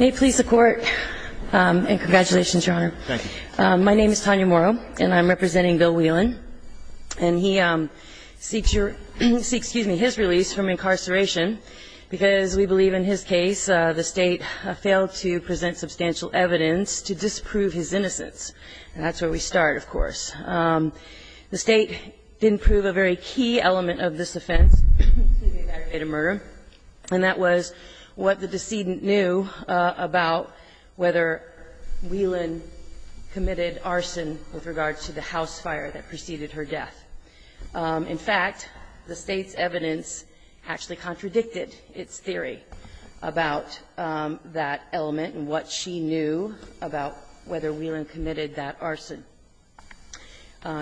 May it please the Court, and congratulations, Your Honor. Thank you. My name is Tanya Morrow, and I'm representing Bill Wieland. And he seeks your – excuse me, his release from incarceration because we believe in his case the State failed to present substantial evidence to disprove his innocence. And that's where we start, of course. The State didn't prove a very key element of this offense, the aggravated murder, and that was what the decedent knew about whether Wieland committed arson with regard to the house fire that preceded her death. In fact, the State's evidence actually contradicted its theory about that element and what she knew about whether Wieland committed that arson.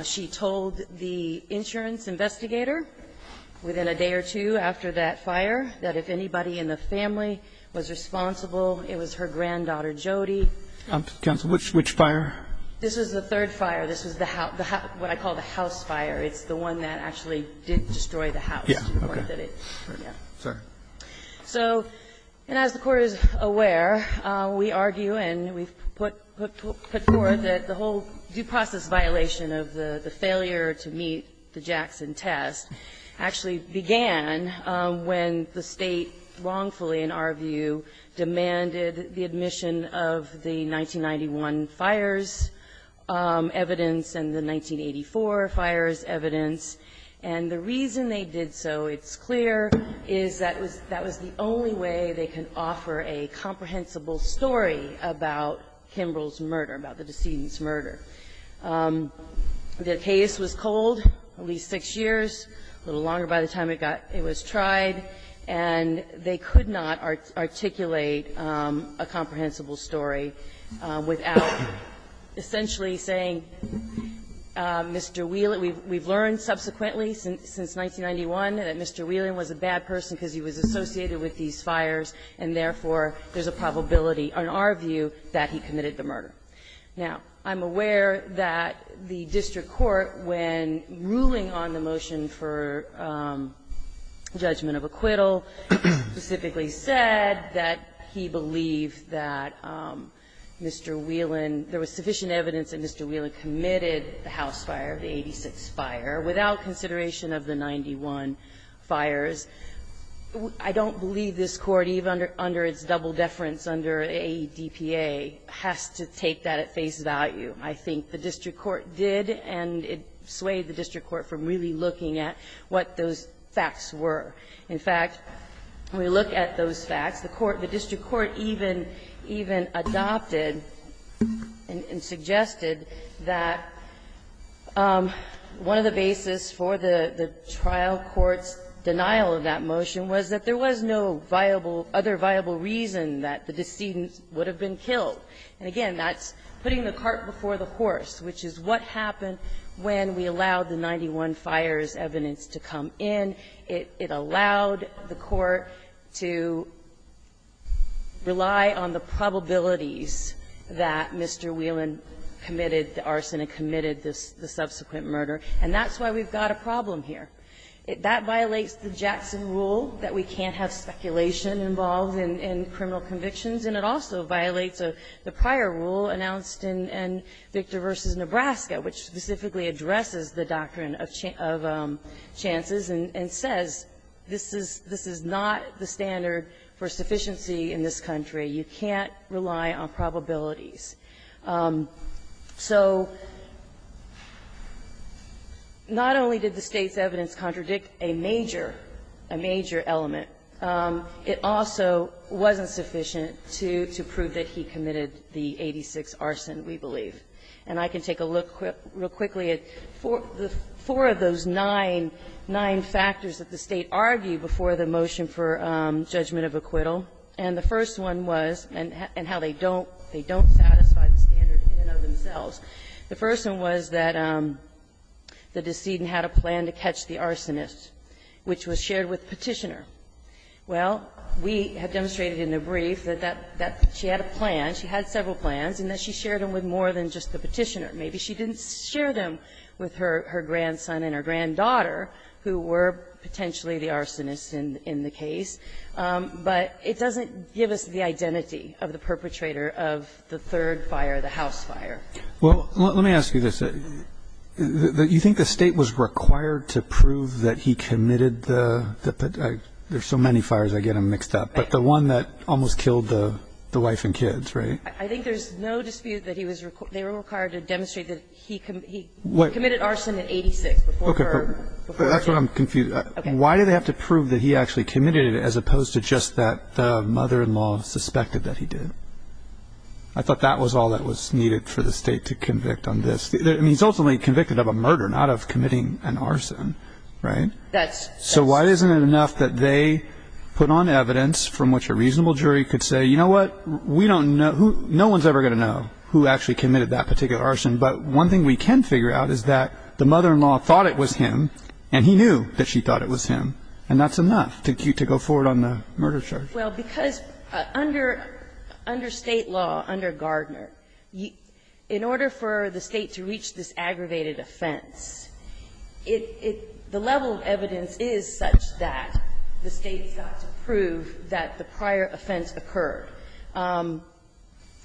She told the insurance investigator within a day or two after that fire that if anybody in the family was responsible, it was her granddaughter Jody. Counsel, which fire? This was the third fire. This was the house – what I call the house fire. It's the one that actually did destroy the house. Yes, okay. Sorry. So, and as the Court is aware, we argue and we've put forward that the whole due process violation of the failure to meet the Jackson test actually began when the State wrongfully, in our view, demanded the admission of the 1991 fire's evidence and the 1984 fire's evidence. And the reason they did so, it's clear, is that was the only way they could offer a comprehensible story about Kimbrel's murder, about the decedent's murder. The case was cold, at least 6 years, a little longer by the time it got – it was tried, and they could not articulate a comprehensible story without essentially saying, Mr. Wieland, we've learned subsequently since 1991 that Mr. Wieland was a bad person because he was associated with these fires, and therefore, there's a probability, in our view, that he committed the murder. Now, I'm aware that the district court, when ruling on the motion for judgment of acquittal, specifically said that he believed that Mr. Wieland – there was sufficient evidence that Mr. Wieland committed the House fire, the 86 fire, without consideration of the 91 fires. I don't believe this Court, even under its double deference under AEDPA, has to take that at face value. I think the district court did, and it swayed the district court from really looking at what those facts were. In fact, when we look at those facts, the court – the district court even adopted and suggested that one of the basis for the trial court's denial of that motion was that there was no viable – other viable reason that the decedent would have been killed. And again, that's putting the cart before the horse, which is what happened when we allowed the 91 fires evidence to come in. It allowed the court to rely on the probabilities that Mr. Wieland committed the arson and committed the subsequent murder. And that's why we've got a problem here. That violates the Jackson rule that we can't have speculation involved in criminal convictions, and it also violates the prior rule announced in Victor v. Nebraska, which specifically addresses the doctrine of chances and says, this is – this is not the standard for sufficiency in this country. You can't rely on probabilities. So not only did the State's evidence contradict a major – a major element, it also wasn't sufficient to prove that he committed the 86th arson, we believe. And I can take a look real quickly at four of those nine – nine factors that the State argued before the motion for judgment of acquittal. And the first one was – and how they don't – they don't satisfy the standard in and of themselves. The first one was that the decedent had a plan to catch the arsonist, which was shared with Petitioner. Well, we have demonstrated in a brief that that – that she had a plan, she had several plans, and that she shared them with more than just the Petitioner. Maybe she didn't share them with her grandson and her granddaughter, who were potentially the arsonists in the case. But it doesn't give us the identity of the perpetrator of the third fire, the house fire. Well, let me ask you this. You think the State was required to prove that he committed the – there's so many fires, I get them mixed up – but the one that almost killed the wife and kids, right? I think there's no dispute that he was – they were required to demonstrate that he committed arson in 86, before her – before her kids. Okay. But that's where I'm confused. Why do they have to prove that he actually committed it, as opposed to just that the mother-in-law suspected that he did? I thought that was all that was needed for the State to convict on this. I mean, he's ultimately convicted of a murder, not of committing an arson, right? That's – So why isn't it enough that they put on evidence from which a reasonable jury could say, you know what, we don't know – no one's ever going to know who actually committed that particular arson. But one thing we can figure out is that the mother-in-law thought it was him, and he knew that she thought it was him. And that's enough to go forward on the murder charge. Well, because under State law, under Gardner, in order for the State to reach this point, the evidence is such that the State's got to prove that the prior offense occurred.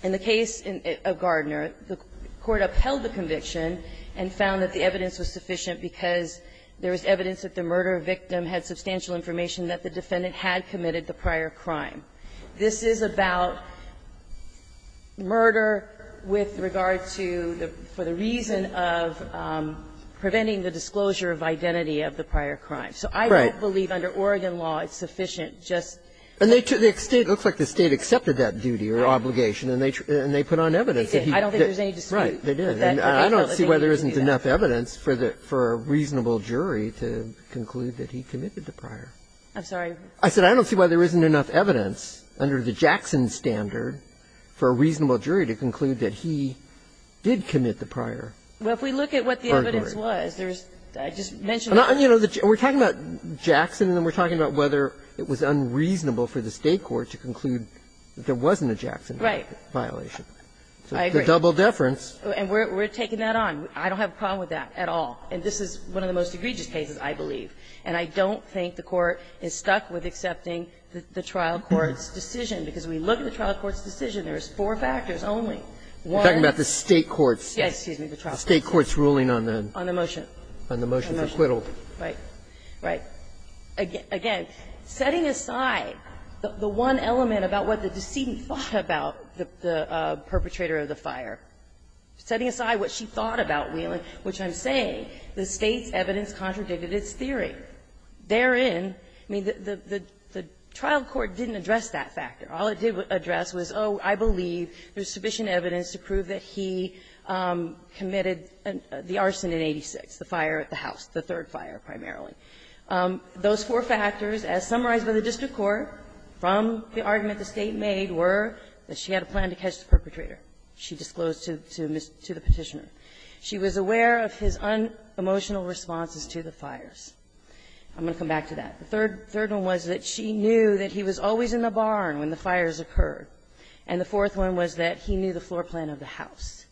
In the case of Gardner, the Court upheld the conviction and found that the evidence was sufficient because there was evidence that the murder victim had substantial information that the defendant had committed the prior crime. This is about murder with regard to the – for the reason of preventing the disclosure of identity of the prior crime. So I don't believe under Oregon law it's sufficient just – And they took – the State – it looks like the State accepted that duty or obligation, and they put on evidence that he – They did. I don't think there's any dispute that the defendant did do that. Right. They did. And I don't see why there isn't enough evidence for a reasonable jury to conclude that he committed the prior. I'm sorry? I said I don't see why there isn't enough evidence under the Jackson standard for a reasonable jury to conclude that he did commit the prior murder. Well, if we look at what the evidence was, there's – I just mentioned that. And, you know, we're talking about Jackson, and then we're talking about whether it was unreasonable for the State court to conclude that there wasn't a Jackson violation. So it's a double deference. I agree. And we're taking that on. I don't have a problem with that at all. And this is one of the most egregious cases, I believe. And I don't think the Court is stuck with accepting the trial court's decision, because we look at the trial court's One – You're talking about the State court's decision. Yes, excuse me, the trial court's decision. The State court's ruling on the – On the motion. On the motion for acquittal. Right. Right. Again, setting aside the one element about what the decedent thought about the perpetrator of the fire, setting aside what she thought about Wheeling, which I'm saying, the State's evidence contradicted its theory. Therein, I mean, the trial court didn't address that factor. All it did address was, oh, I believe there's sufficient evidence to prove that he committed the arson in 86, the fire at the house, the third fire primarily. Those four factors, as summarized by the district court, from the argument the State made were that she had a plan to catch the perpetrator. She disclosed to the Petitioner. She was aware of his unemotional responses to the fires. I'm going to come back to that. The third one was that she knew that he was always in the barn when the fires occurred. And the fourth one was that he knew the floor plan of the house.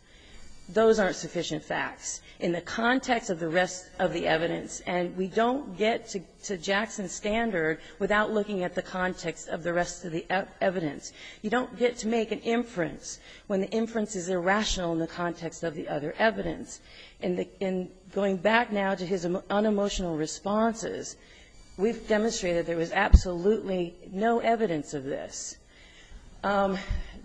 Those aren't sufficient facts. In the context of the rest of the evidence, and we don't get to Jackson's standard without looking at the context of the rest of the evidence. You don't get to make an inference when the inference is irrational in the context of the other evidence. In the going back now to his unemotional responses, we've demonstrated there was absolutely no evidence of this.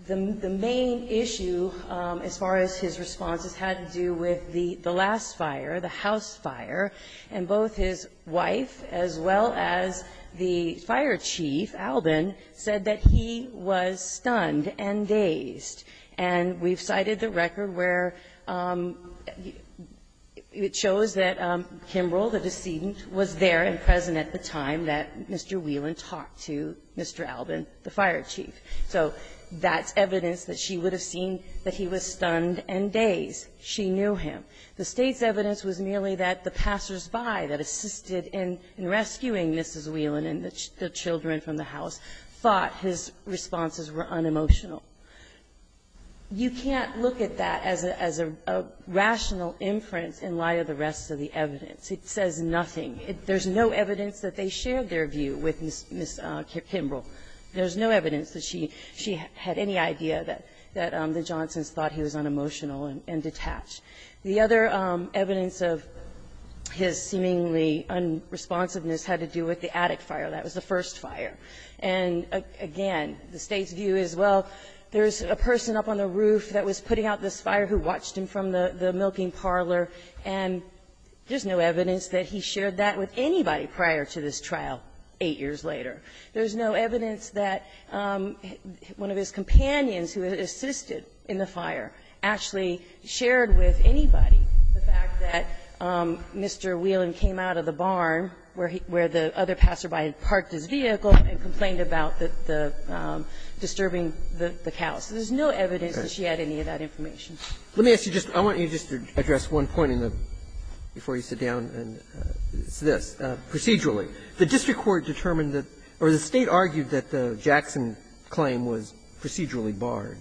The main issue, as far as his responses, had to do with the last fire, the house fire. And both his wife, as well as the fire chief, Albin, said that he was stunned and dazed. And we've cited the record where, you know, it shows that Kimbrell, the decedent, was there and present at the time that Mr. Whelan talked to Mr. Albin, the fire chief. So that's evidence that she would have seen that he was stunned and dazed. She knew him. The State's evidence was merely that the passersby that assisted in rescuing Mrs. Whelan and the children from the house thought his responses were unemotional. You can't look at that as a rational inference in light of the rest of the evidence. It says nothing. There's no evidence that they shared their view with Ms. Kimbrell. There's no evidence that she had any idea that the Johnsons thought he was unemotional and detached. The other evidence of his seemingly unresponsiveness had to do with the attic fire. That was the first fire. And again, the State's view is, well, there's a person up on the roof that was putting out this fire who watched him from the milking parlor, and there's no evidence that he shared that with anybody prior to this trial eight years later. There's no evidence that one of his companions who had assisted in the fire actually shared with anybody the fact that Mr. Whelan came out of the barn where he – where the other passerby had parked his vehicle and complained about the disturbing the cows. So there's no evidence that she had any of that information. Let me ask you just – I want you just to address one point in the – before you sit down, and it's this. Procedurally, the district court determined that – or the State argued that the Jackson claim was procedurally barred,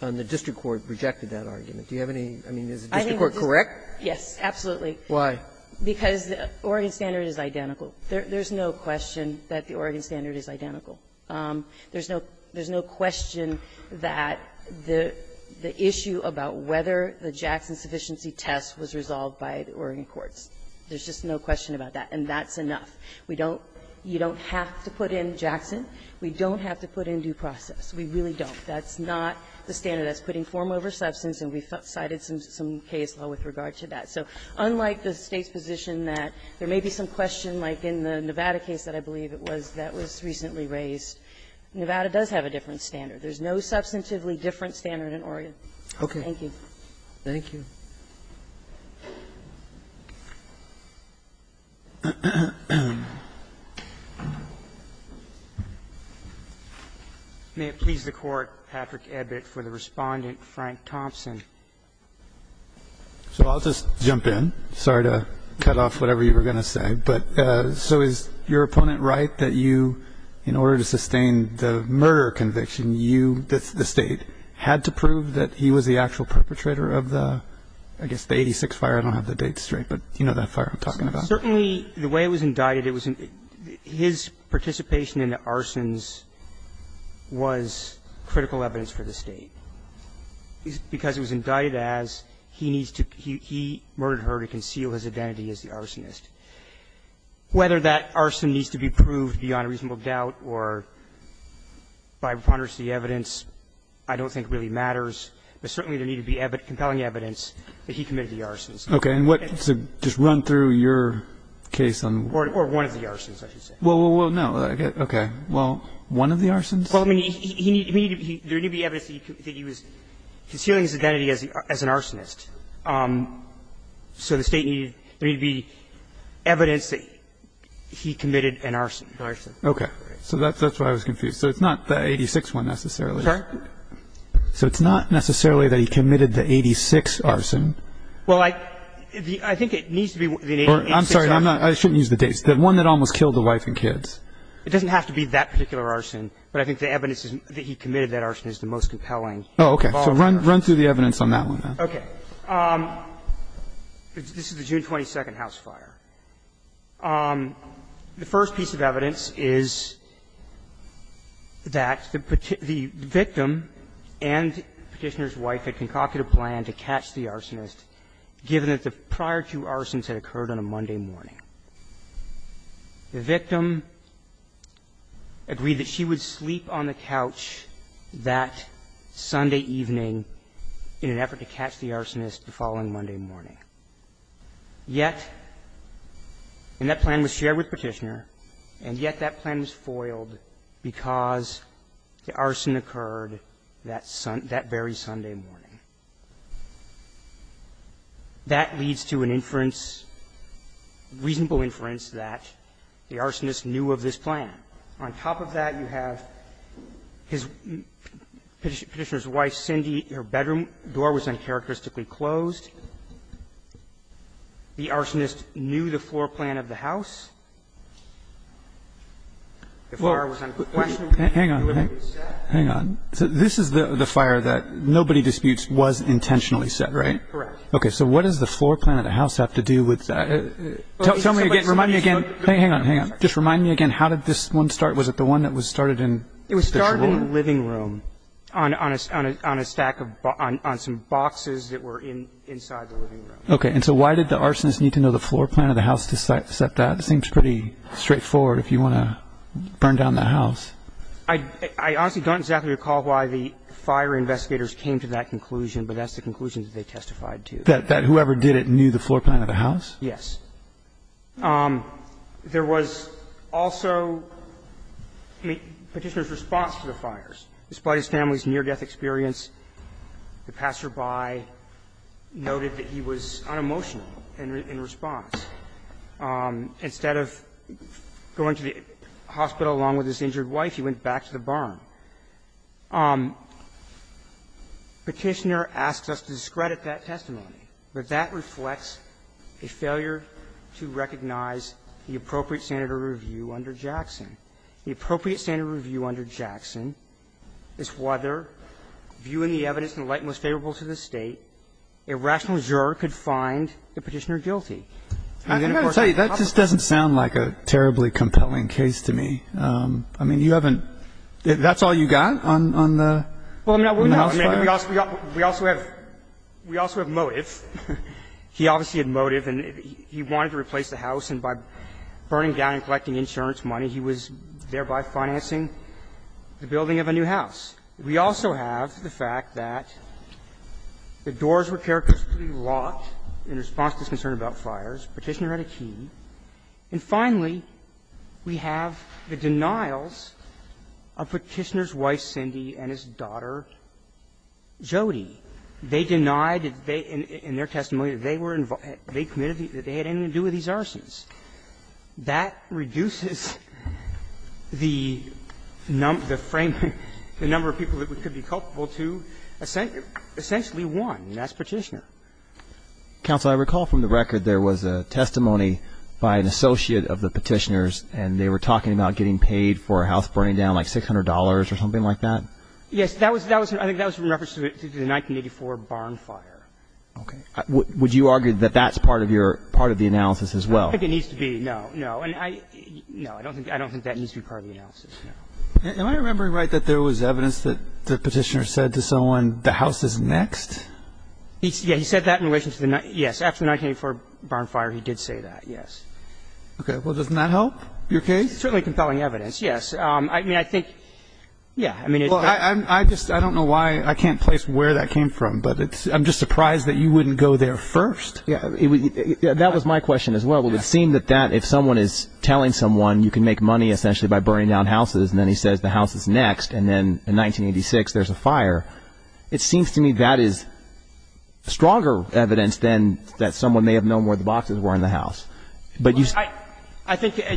and the district court rejected that argument. Do you have any – I mean, is the district court correct? Yes, absolutely. Why? Because the Oregon standard is identical. There's no question that the Oregon issue about whether the Jackson sufficiency test was resolved by the Oregon courts. There's just no question about that. And that's enough. We don't – you don't have to put in Jackson. We don't have to put in due process. We really don't. That's not the standard. That's putting form over substance, and we cited some case law with regard to that. So unlike the State's position that there may be some question, like in the Nevada case that I believe it was that was recently raised, Nevada does have a different standard. There's no substantively different standard in Oregon. Okay. Thank you. Thank you. May it please the Court, Patrick Ebbert, for the Respondent, Frank Thompson. So I'll just jump in. Sorry to cut off whatever you were going to say. But so is your opponent right that you, in order to sustain the murder conviction, you, the State, had to prove that he was the actual perpetrator of the, I guess, the 86th fire? I don't have the dates straight, but you know that fire I'm talking about. Certainly, the way it was indicted, it was – his participation in the arsons was critical evidence for the State, because it was indicted as he needs to – he murdered her to conceal his identity as the arsonist. Whether that arson needs to be proved beyond reasonable doubt or by preponderance of the evidence, I don't think really matters. But certainly, there needed to be compelling evidence that he committed the arsons. Okay. And what – just run through your case on – Or one of the arsons, I should say. Well, no. Okay. Well, one of the arsons? Well, I mean, he needed – there needed to be evidence that he was concealing his identity as an arsonist. So the State needed – there needed to be evidence that he committed an arson. Arson. Okay. So that's why I was confused. So it's not the 86th one necessarily? Sorry? So it's not necessarily that he committed the 86th arson? Well, I think it needs to be the 86th arson. I'm sorry. I shouldn't use the dates. The one that almost killed the wife and kids. It doesn't have to be that particular arson, but I think the evidence that he committed that arson is the most compelling. Oh, okay. So run through the evidence on that one, then. Okay. This is the June 22nd house fire. The first piece of evidence is that the victim and Petitioner's wife had concocted a plan to catch the arsonist, given that the prior two arsons had occurred on a Monday morning. The victim agreed that she would sleep on the couch that Sunday evening in an effort to catch the arsonist the following Monday morning. Yet that plan was shared with Petitioner, and yet that plan was foiled because the arson occurred that very Sunday morning. That leads to an inference, reasonable inference that the arsonist knew of this plan. On top of that, you have Petitioner's wife, Cindy, her bedroom door was uncharacteristically closed. The arsonist knew the floor plan of the house. The fire was unquestionably set. Hang on. Hang on. This is the fire that nobody disputes was intentionally set, right? Correct. Okay. So what does the floor plan of the house have to do with that? Tell me again. Remind me again. Hang on. Hang on. Just remind me again. How did this one start? Was it the one that was started in the drawer? It was started in the living room on a stack of boxes that were inside the living room. Okay. And so why did the arsonist need to know the floor plan of the house to set that? It seems pretty straightforward if you want to burn down the house. I honestly don't exactly recall why the fire investigators came to that conclusion, but that's the conclusion that they testified to. That whoever did it knew the floor plan of the house? Yes. There was also Petitioner's response to the fires. Despite his family's near-death experience, the passerby noted that he was unemotional in response. Instead of going to the hospital along with his injured wife, he went back to the barn. Petitioner asks us to discredit that testimony, but that reflects a failure to do so to recognize the appropriate standard of review under Jackson. The appropriate standard of review under Jackson is whether, viewing the evidence in the light most favorable to the State, a rational juror could find the Petitioner And then, of course, the public. That just doesn't sound like a terribly compelling case to me. I mean, you haven't – that's all you got on the house fire? Well, no, we also have – we also have motive. He obviously had motive, and he wanted to replace the house, and by burning down and collecting insurance money, he was thereby financing the building of a new house. We also have the fact that the doors were characteristically locked in response to his concern about fires. Petitioner had a key. And finally, we have the denials of Petitioner's wife, Cindy, and his daughter, Jody. They denied, in their testimony, that they were – they committed – that they had anything to do with these arsons. That reduces the frame – the number of people that we could be culpable to, essentially one, and that's Petitioner. Counsel, I recall from the record there was a testimony by an associate of the Petitioner's, and they were talking about getting paid for a house burning down, like $600 or something like that? Yes. That was – I think that was in reference to the 1984 barn fire. Okay. Would you argue that that's part of your – part of the analysis as well? I think it needs to be, no, no. And I – no, I don't think that needs to be part of the analysis, no. Am I remembering right that there was evidence that the Petitioner said to someone, the house is next? He said that in relation to the – yes. After the 1984 barn fire, he did say that, yes. Okay. Well, doesn't that help your case? It's certainly compelling evidence, yes. I mean, I think – yeah. Well, I just – I don't know why – I can't place where that came from, but it's – I'm just surprised that you wouldn't go there first. That was my question as well. It would seem that that – if someone is telling someone you can make money essentially by burning down houses, and then he says the house is next, and then in 1986 there's a fire, it seems to me that is stronger evidence than that someone may have known where the boxes were in the house. But you – I think –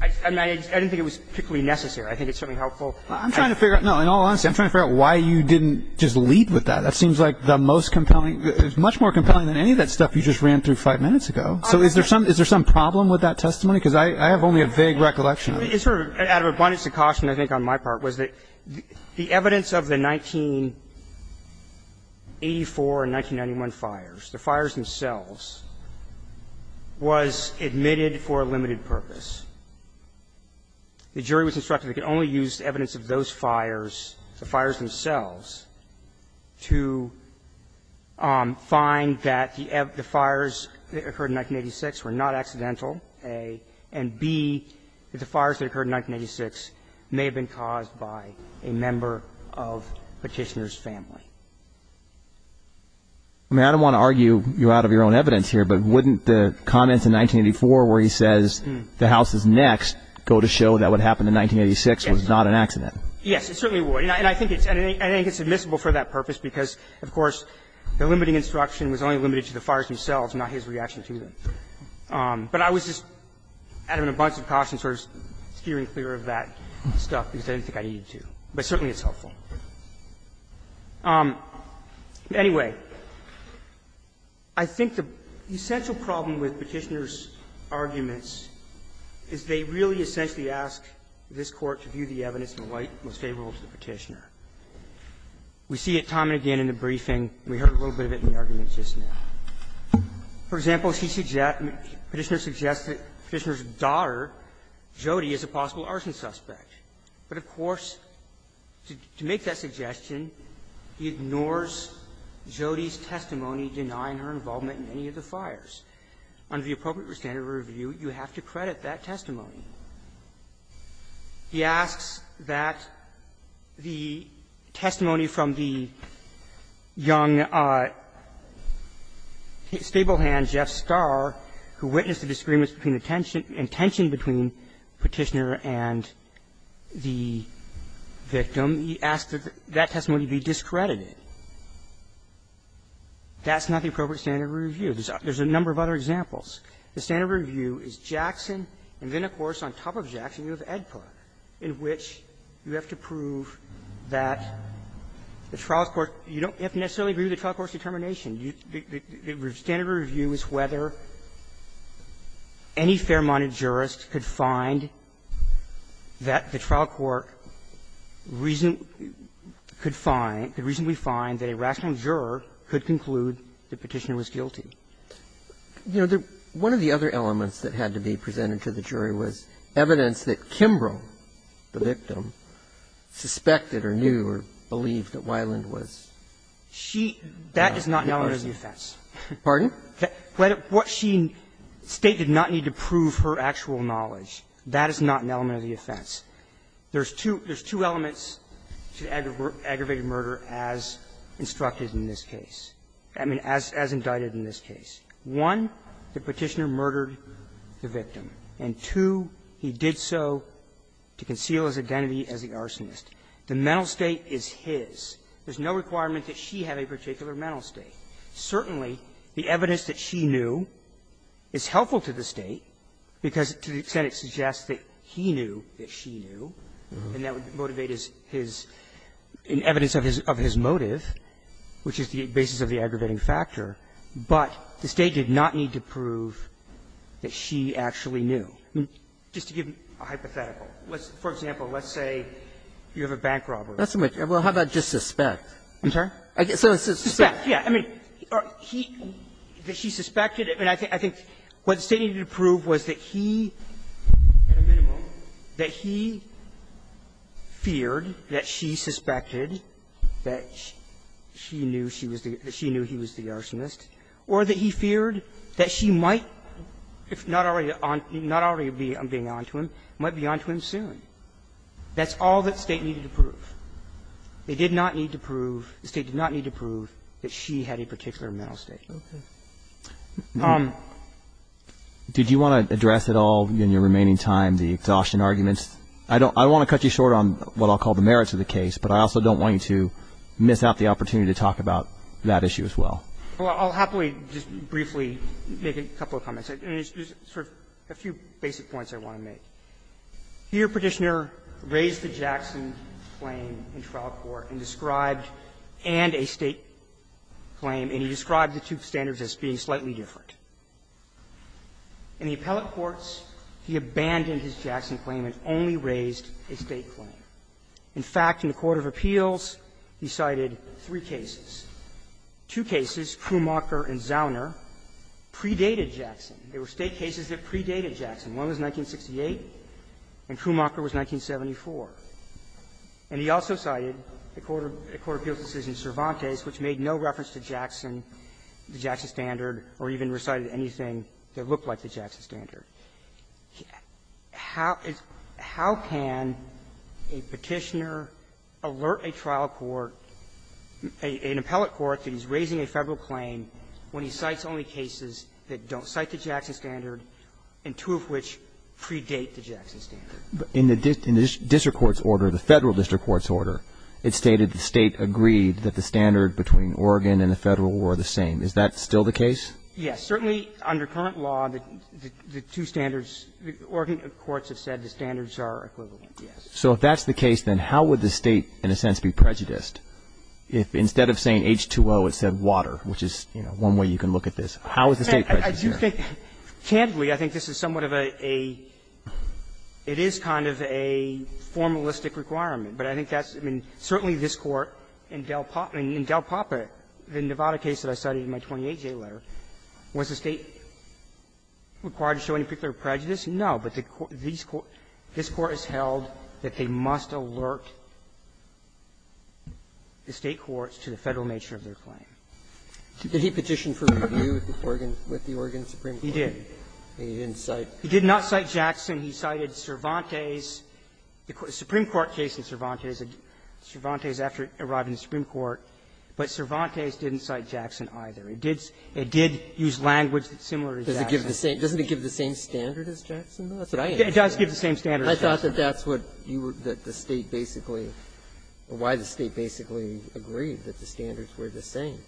I mean, I didn't think it was particularly necessary. I think it's certainly helpful. I'm trying to figure out – no, in all honesty, I'm trying to figure out why you didn't just lead with that. That seems like the most compelling – much more compelling than any of that stuff you just ran through five minutes ago. So is there some – is there some problem with that testimony? Because I have only a vague recollection of it. It's sort of – out of abundance of caution, I think, on my part, was that the evidence of the 1984 and 1991 fires, the fires themselves, was admitted for a limited purpose. The jury was instructed they could only use the evidence of those fires, the fires themselves, to find that the fires that occurred in 1986 were not accidental, A, and, B, that the fires that occurred in 1986 may have been caused by a member of Petitioner's family. I mean, I don't want to argue you out of your own evidence here, but wouldn't the comments in 1984 where he says the House is next go to show that what happened in 1986 was not an accident? Yes. It certainly would. And I think it's admissible for that purpose because, of course, the limiting instruction was only limited to the fires themselves, not his reaction to them. But I was just – out of abundance of caution, sort of steering clear of that stuff because I didn't think I needed to, but certainly it's helpful. Anyway, I think the essential problem with Petitioner's arguments is they really essentially ask this Court to view the evidence in a light most favorable to the Petitioner. We see it time and again in the briefing. We heard a little bit of it in the arguments just now. For example, Petitioner suggests that Petitioner's daughter, Jody, is a possible arson suspect. But, of course, to make that suggestion, he ignores Jody's testimony denying her involvement in any of the fires. Under the appropriate standard of review, you have to credit that testimony. He asks that the testimony from the young stablehand Jeff Starr, who witnessed the disagreements between the tension – and tension between Petitioner and Jody, the victim, he asks that that testimony be discredited. That's not the appropriate standard of review. There's a number of other examples. The standard of review is Jackson, and then, of course, on top of Jackson, you have Edpard, in which you have to prove that the trial's court – you don't have to necessarily agree with the trial court's determination. The standard of review is whether any fair-minded jurist could find that the trial court reason – could find – could reasonably find that a rational juror could conclude that Petitioner was guilty. You know, the – one of the other elements that had to be presented to the jury was evidence that Kimbrough, the victim, suspected or knew or believed that Weiland was. She – that is not an element of the offense. Pardon? What she stated did not need to prove her actual knowledge. That is not an element of the offense. There's two – there's two elements to aggravated murder as instructed in this case – I mean, as indicted in this case. One, that Petitioner murdered the victim, and two, he did so to conceal his identity as the arsonist. The mental state is his. There's no requirement that she have a particular mental state. Certainly, the evidence that she knew is helpful to the State because, to the extent it suggests that he knew that she knew, and that would motivate his – his – in evidence of his motive, which is the basis of the aggravating factor. But the State did not need to prove that she actually knew. Just to give a hypothetical. Let's – for example, let's say you have a bank robbery. That's a much – well, how about just suspect? I'm sorry? Suspect, yeah. I mean, he – that she suspected, and I think what the State needed to prove was that he, at a minimum, that he feared that she suspected that she knew she was the – that she knew he was the arsonist, or that he feared that she might, if not already on – not already being on to him, might be on to him soon. That's all that State needed to prove. They did not need to prove – the State did not need to prove that she had a particular mental state. Okay. Did you want to address at all in your remaining time the exhaustion arguments? I don't – I don't want to cut you short on what I'll call the merits of the case, but I also don't want you to miss out the opportunity to talk about that issue as well. Well, I'll happily just briefly make a couple of comments. I mean, just sort of a few basic points I want to make. Here, Petitioner raised the Jackson claim in trial court and described – and a State claim, and he described the two standards as being slightly different. In the appellate courts, he abandoned his Jackson claim and only raised a State claim. In fact, in the court of appeals, he cited three cases. Two cases, Krumacher and Zauner, predated Jackson. They were State cases that predated Jackson. One was 1968, and Krumacher was 1974. And he also cited a court of appeals decision, Cervantes, which made no reference to Jackson, the Jackson standard, or even recited anything that looked like the Jackson standard. How is – how can a Petitioner alert a trial court, an appellate court, that he's raising a Federal claim when he cites only cases that don't cite the Jackson standard, and two of which predate the Jackson standard? But in the district court's order, the Federal district court's order, it stated the State agreed that the standard between Oregon and the Federal were the same. Is that still the case? Yes. Certainly, under current law, the two standards, the Oregon courts have said the standards are equivalent, yes. So if that's the case, then how would the State, in a sense, be prejudiced if instead of saying H2O, it said water, which is one way you can look at this? How is the State prejudiced? I do think, candidly, I think this is somewhat of a – it is kind of a formalistic requirement. But I think that's – I mean, certainly this Court, in Del Papa, the Nevada case that I cited in my 28-J letter, was the State required to show any particular prejudice? No. But the Court – this Court has held that they must alert the State courts to the Federal nature of their claim. Did he petition for review with the Oregon Supreme Court? He did. He didn't cite – He did not cite Jackson. He cited Cervantes. The Supreme Court case in Cervantes, Cervantes after it arrived in the Supreme Court, but Cervantes didn't cite Jackson either. It did use language similar to Jackson. Doesn't it give the same standard as Jackson, though? That's what I understand. It does give the same standard as Jackson. I thought that that's what you were – that the State basically – why the State basically agreed that the standards were the same.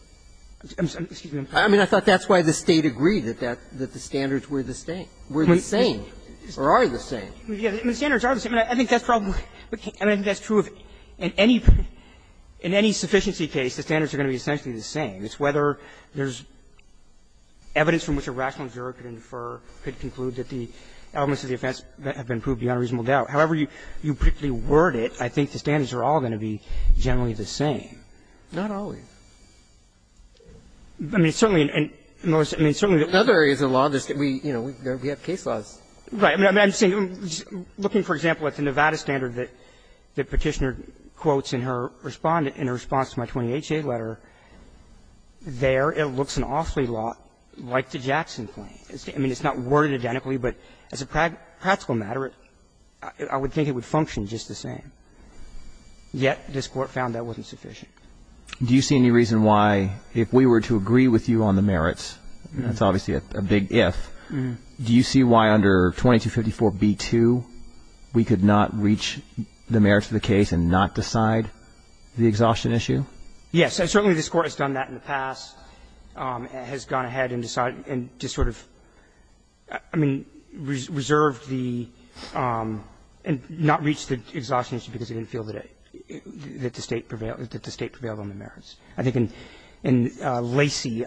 I mean, I thought that's why the State agreed that the standards were the same. Were the same. Or are they the same? The standards are the same. I think that's probably – I think that's true of any – in any sufficiency case, the standards are going to be essentially the same. It's whether there's evidence from which a rational observer could infer, could conclude that the elements of the offense have been proved beyond reasonable doubt. However you particularly word it, I think the standards are all going to be generally the same. Not always. I mean, certainly in most – I mean, certainly in other areas of law, we have case laws. Right. I'm saying, looking, for example, at the Nevada standard that Petitioner quotes in her response to my 20HA letter, there it looks an awfully lot like the Jackson claim. I mean, it's not worded identically, but as a practical matter, I would think it would function just the same. Yet this Court found that wasn't sufficient. Do you see any reason why, if we were to agree with you on the merits – that's obviously a big if – do you see why under 2254b2 we could not reach the merits of the case and not decide the exhaustion issue? Yes. Certainly this Court has done that in the past, has gone ahead and decided – and just sort of, I mean, reserved the – and not reached the exhaustion issue because it didn't feel that the State prevailed on the merits. I think in Lacey,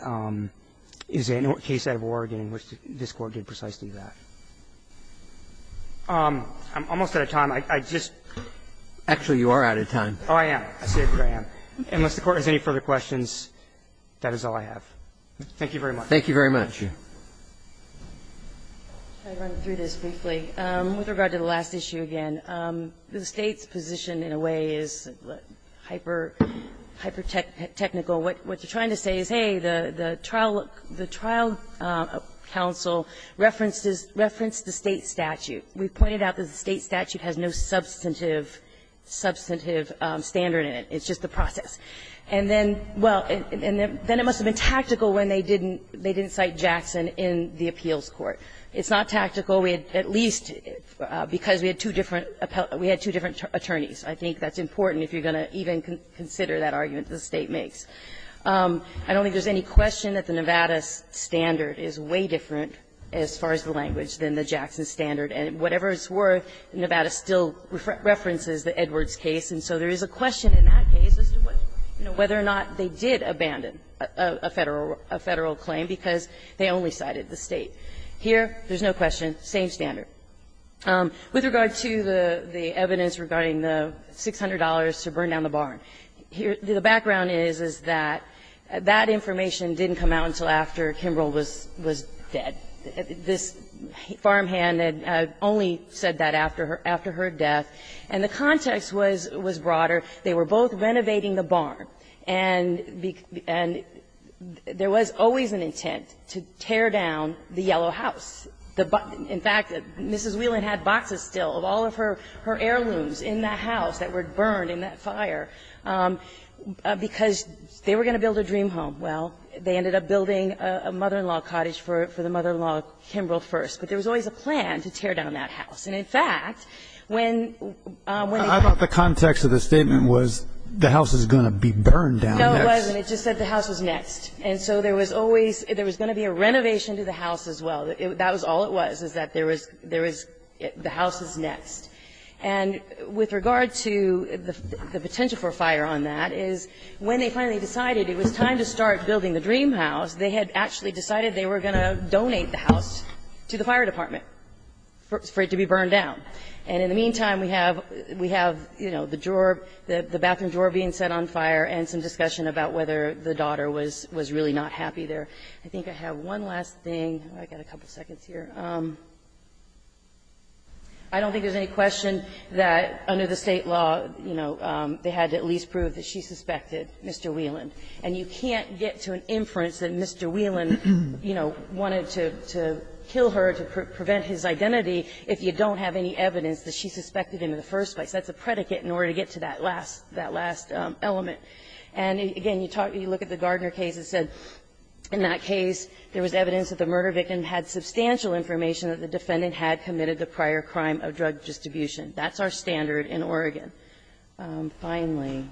is there a case out of Oregon in which this Court did precisely that? I'm almost out of time. I just – Actually, you are out of time. Oh, I am. I say that I am. Unless the Court has any further questions, that is all I have. Thank you very much. Thank you very much. I'd run through this briefly. With regard to the last issue again, the State's position in a way is hyper-technical. What they're trying to say is, hey, the trial – the trial counsel referenced the State statute. We pointed out that the State statute has no substantive standard in it. It's just the process. And then, well, and then it must have been tactical when they didn't cite Jackson in the appeals court. It's not tactical. Well, we at least – because we had two different – we had two different attorneys. I think that's important if you're going to even consider that argument the State makes. I don't think there's any question that the Nevada standard is way different as far as the language than the Jackson standard. And whatever it's worth, Nevada still references the Edwards case. And so there is a question in that case as to whether or not they did abandon a Federal claim because they only cited the State. Here, there's no question, same standard. With regard to the evidence regarding the $600 to burn down the barn, the background is, is that that information didn't come out until after Kimbrell was dead. This farmhand had only said that after her death. And the context was broader. They were both renovating the barn. And there was always an intent to tear down the yellow house. In fact, Mrs. Whelan had boxes still of all of her heirlooms in that house that were burned in that fire because they were going to build a dream home. Well, they ended up building a mother-in-law cottage for the mother-in-law Kimbrell first. But there was always a plan to tear down that house. And in fact, when they – Was the house is going to be burned down next? No, it wasn't. It just said the house was next. And so there was always – there was going to be a renovation to the house as well. That was all it was, is that there was – there was – the house is next. And with regard to the potential for fire on that is, when they finally decided it was time to start building the dream house, they had actually decided they were going to donate the house to the fire department for it to be burned down. And in the meantime, we have – we have, you know, the drawer – the bathroom drawer being set on fire and some discussion about whether the daughter was really not happy there. I think I have one last thing. I've got a couple of seconds here. I don't think there's any question that under the State law, you know, they had to at least prove that she suspected Mr. Whelan. And you can't get to an inference that Mr. Whelan, you know, wanted to kill her to evidence that she suspected him in the first place. That's a predicate in order to get to that last – that last element. And again, you talk – you look at the Gardner case, it said in that case, there was evidence that the murder victim had substantial information that the defendant had committed the prior crime of drug distribution. That's our standard in Oregon. Finally,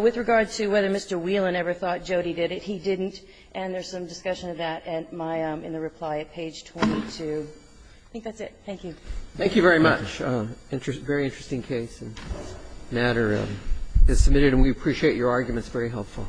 with regard to whether Mr. Whelan ever thought Jody did it, he didn't. And there's some discussion of that at my – in the reply at page 22. I think that's it. Thank you. Roberts. Thank you very much. Very interesting case. The matter is submitted, and we appreciate your arguments. Very helpful.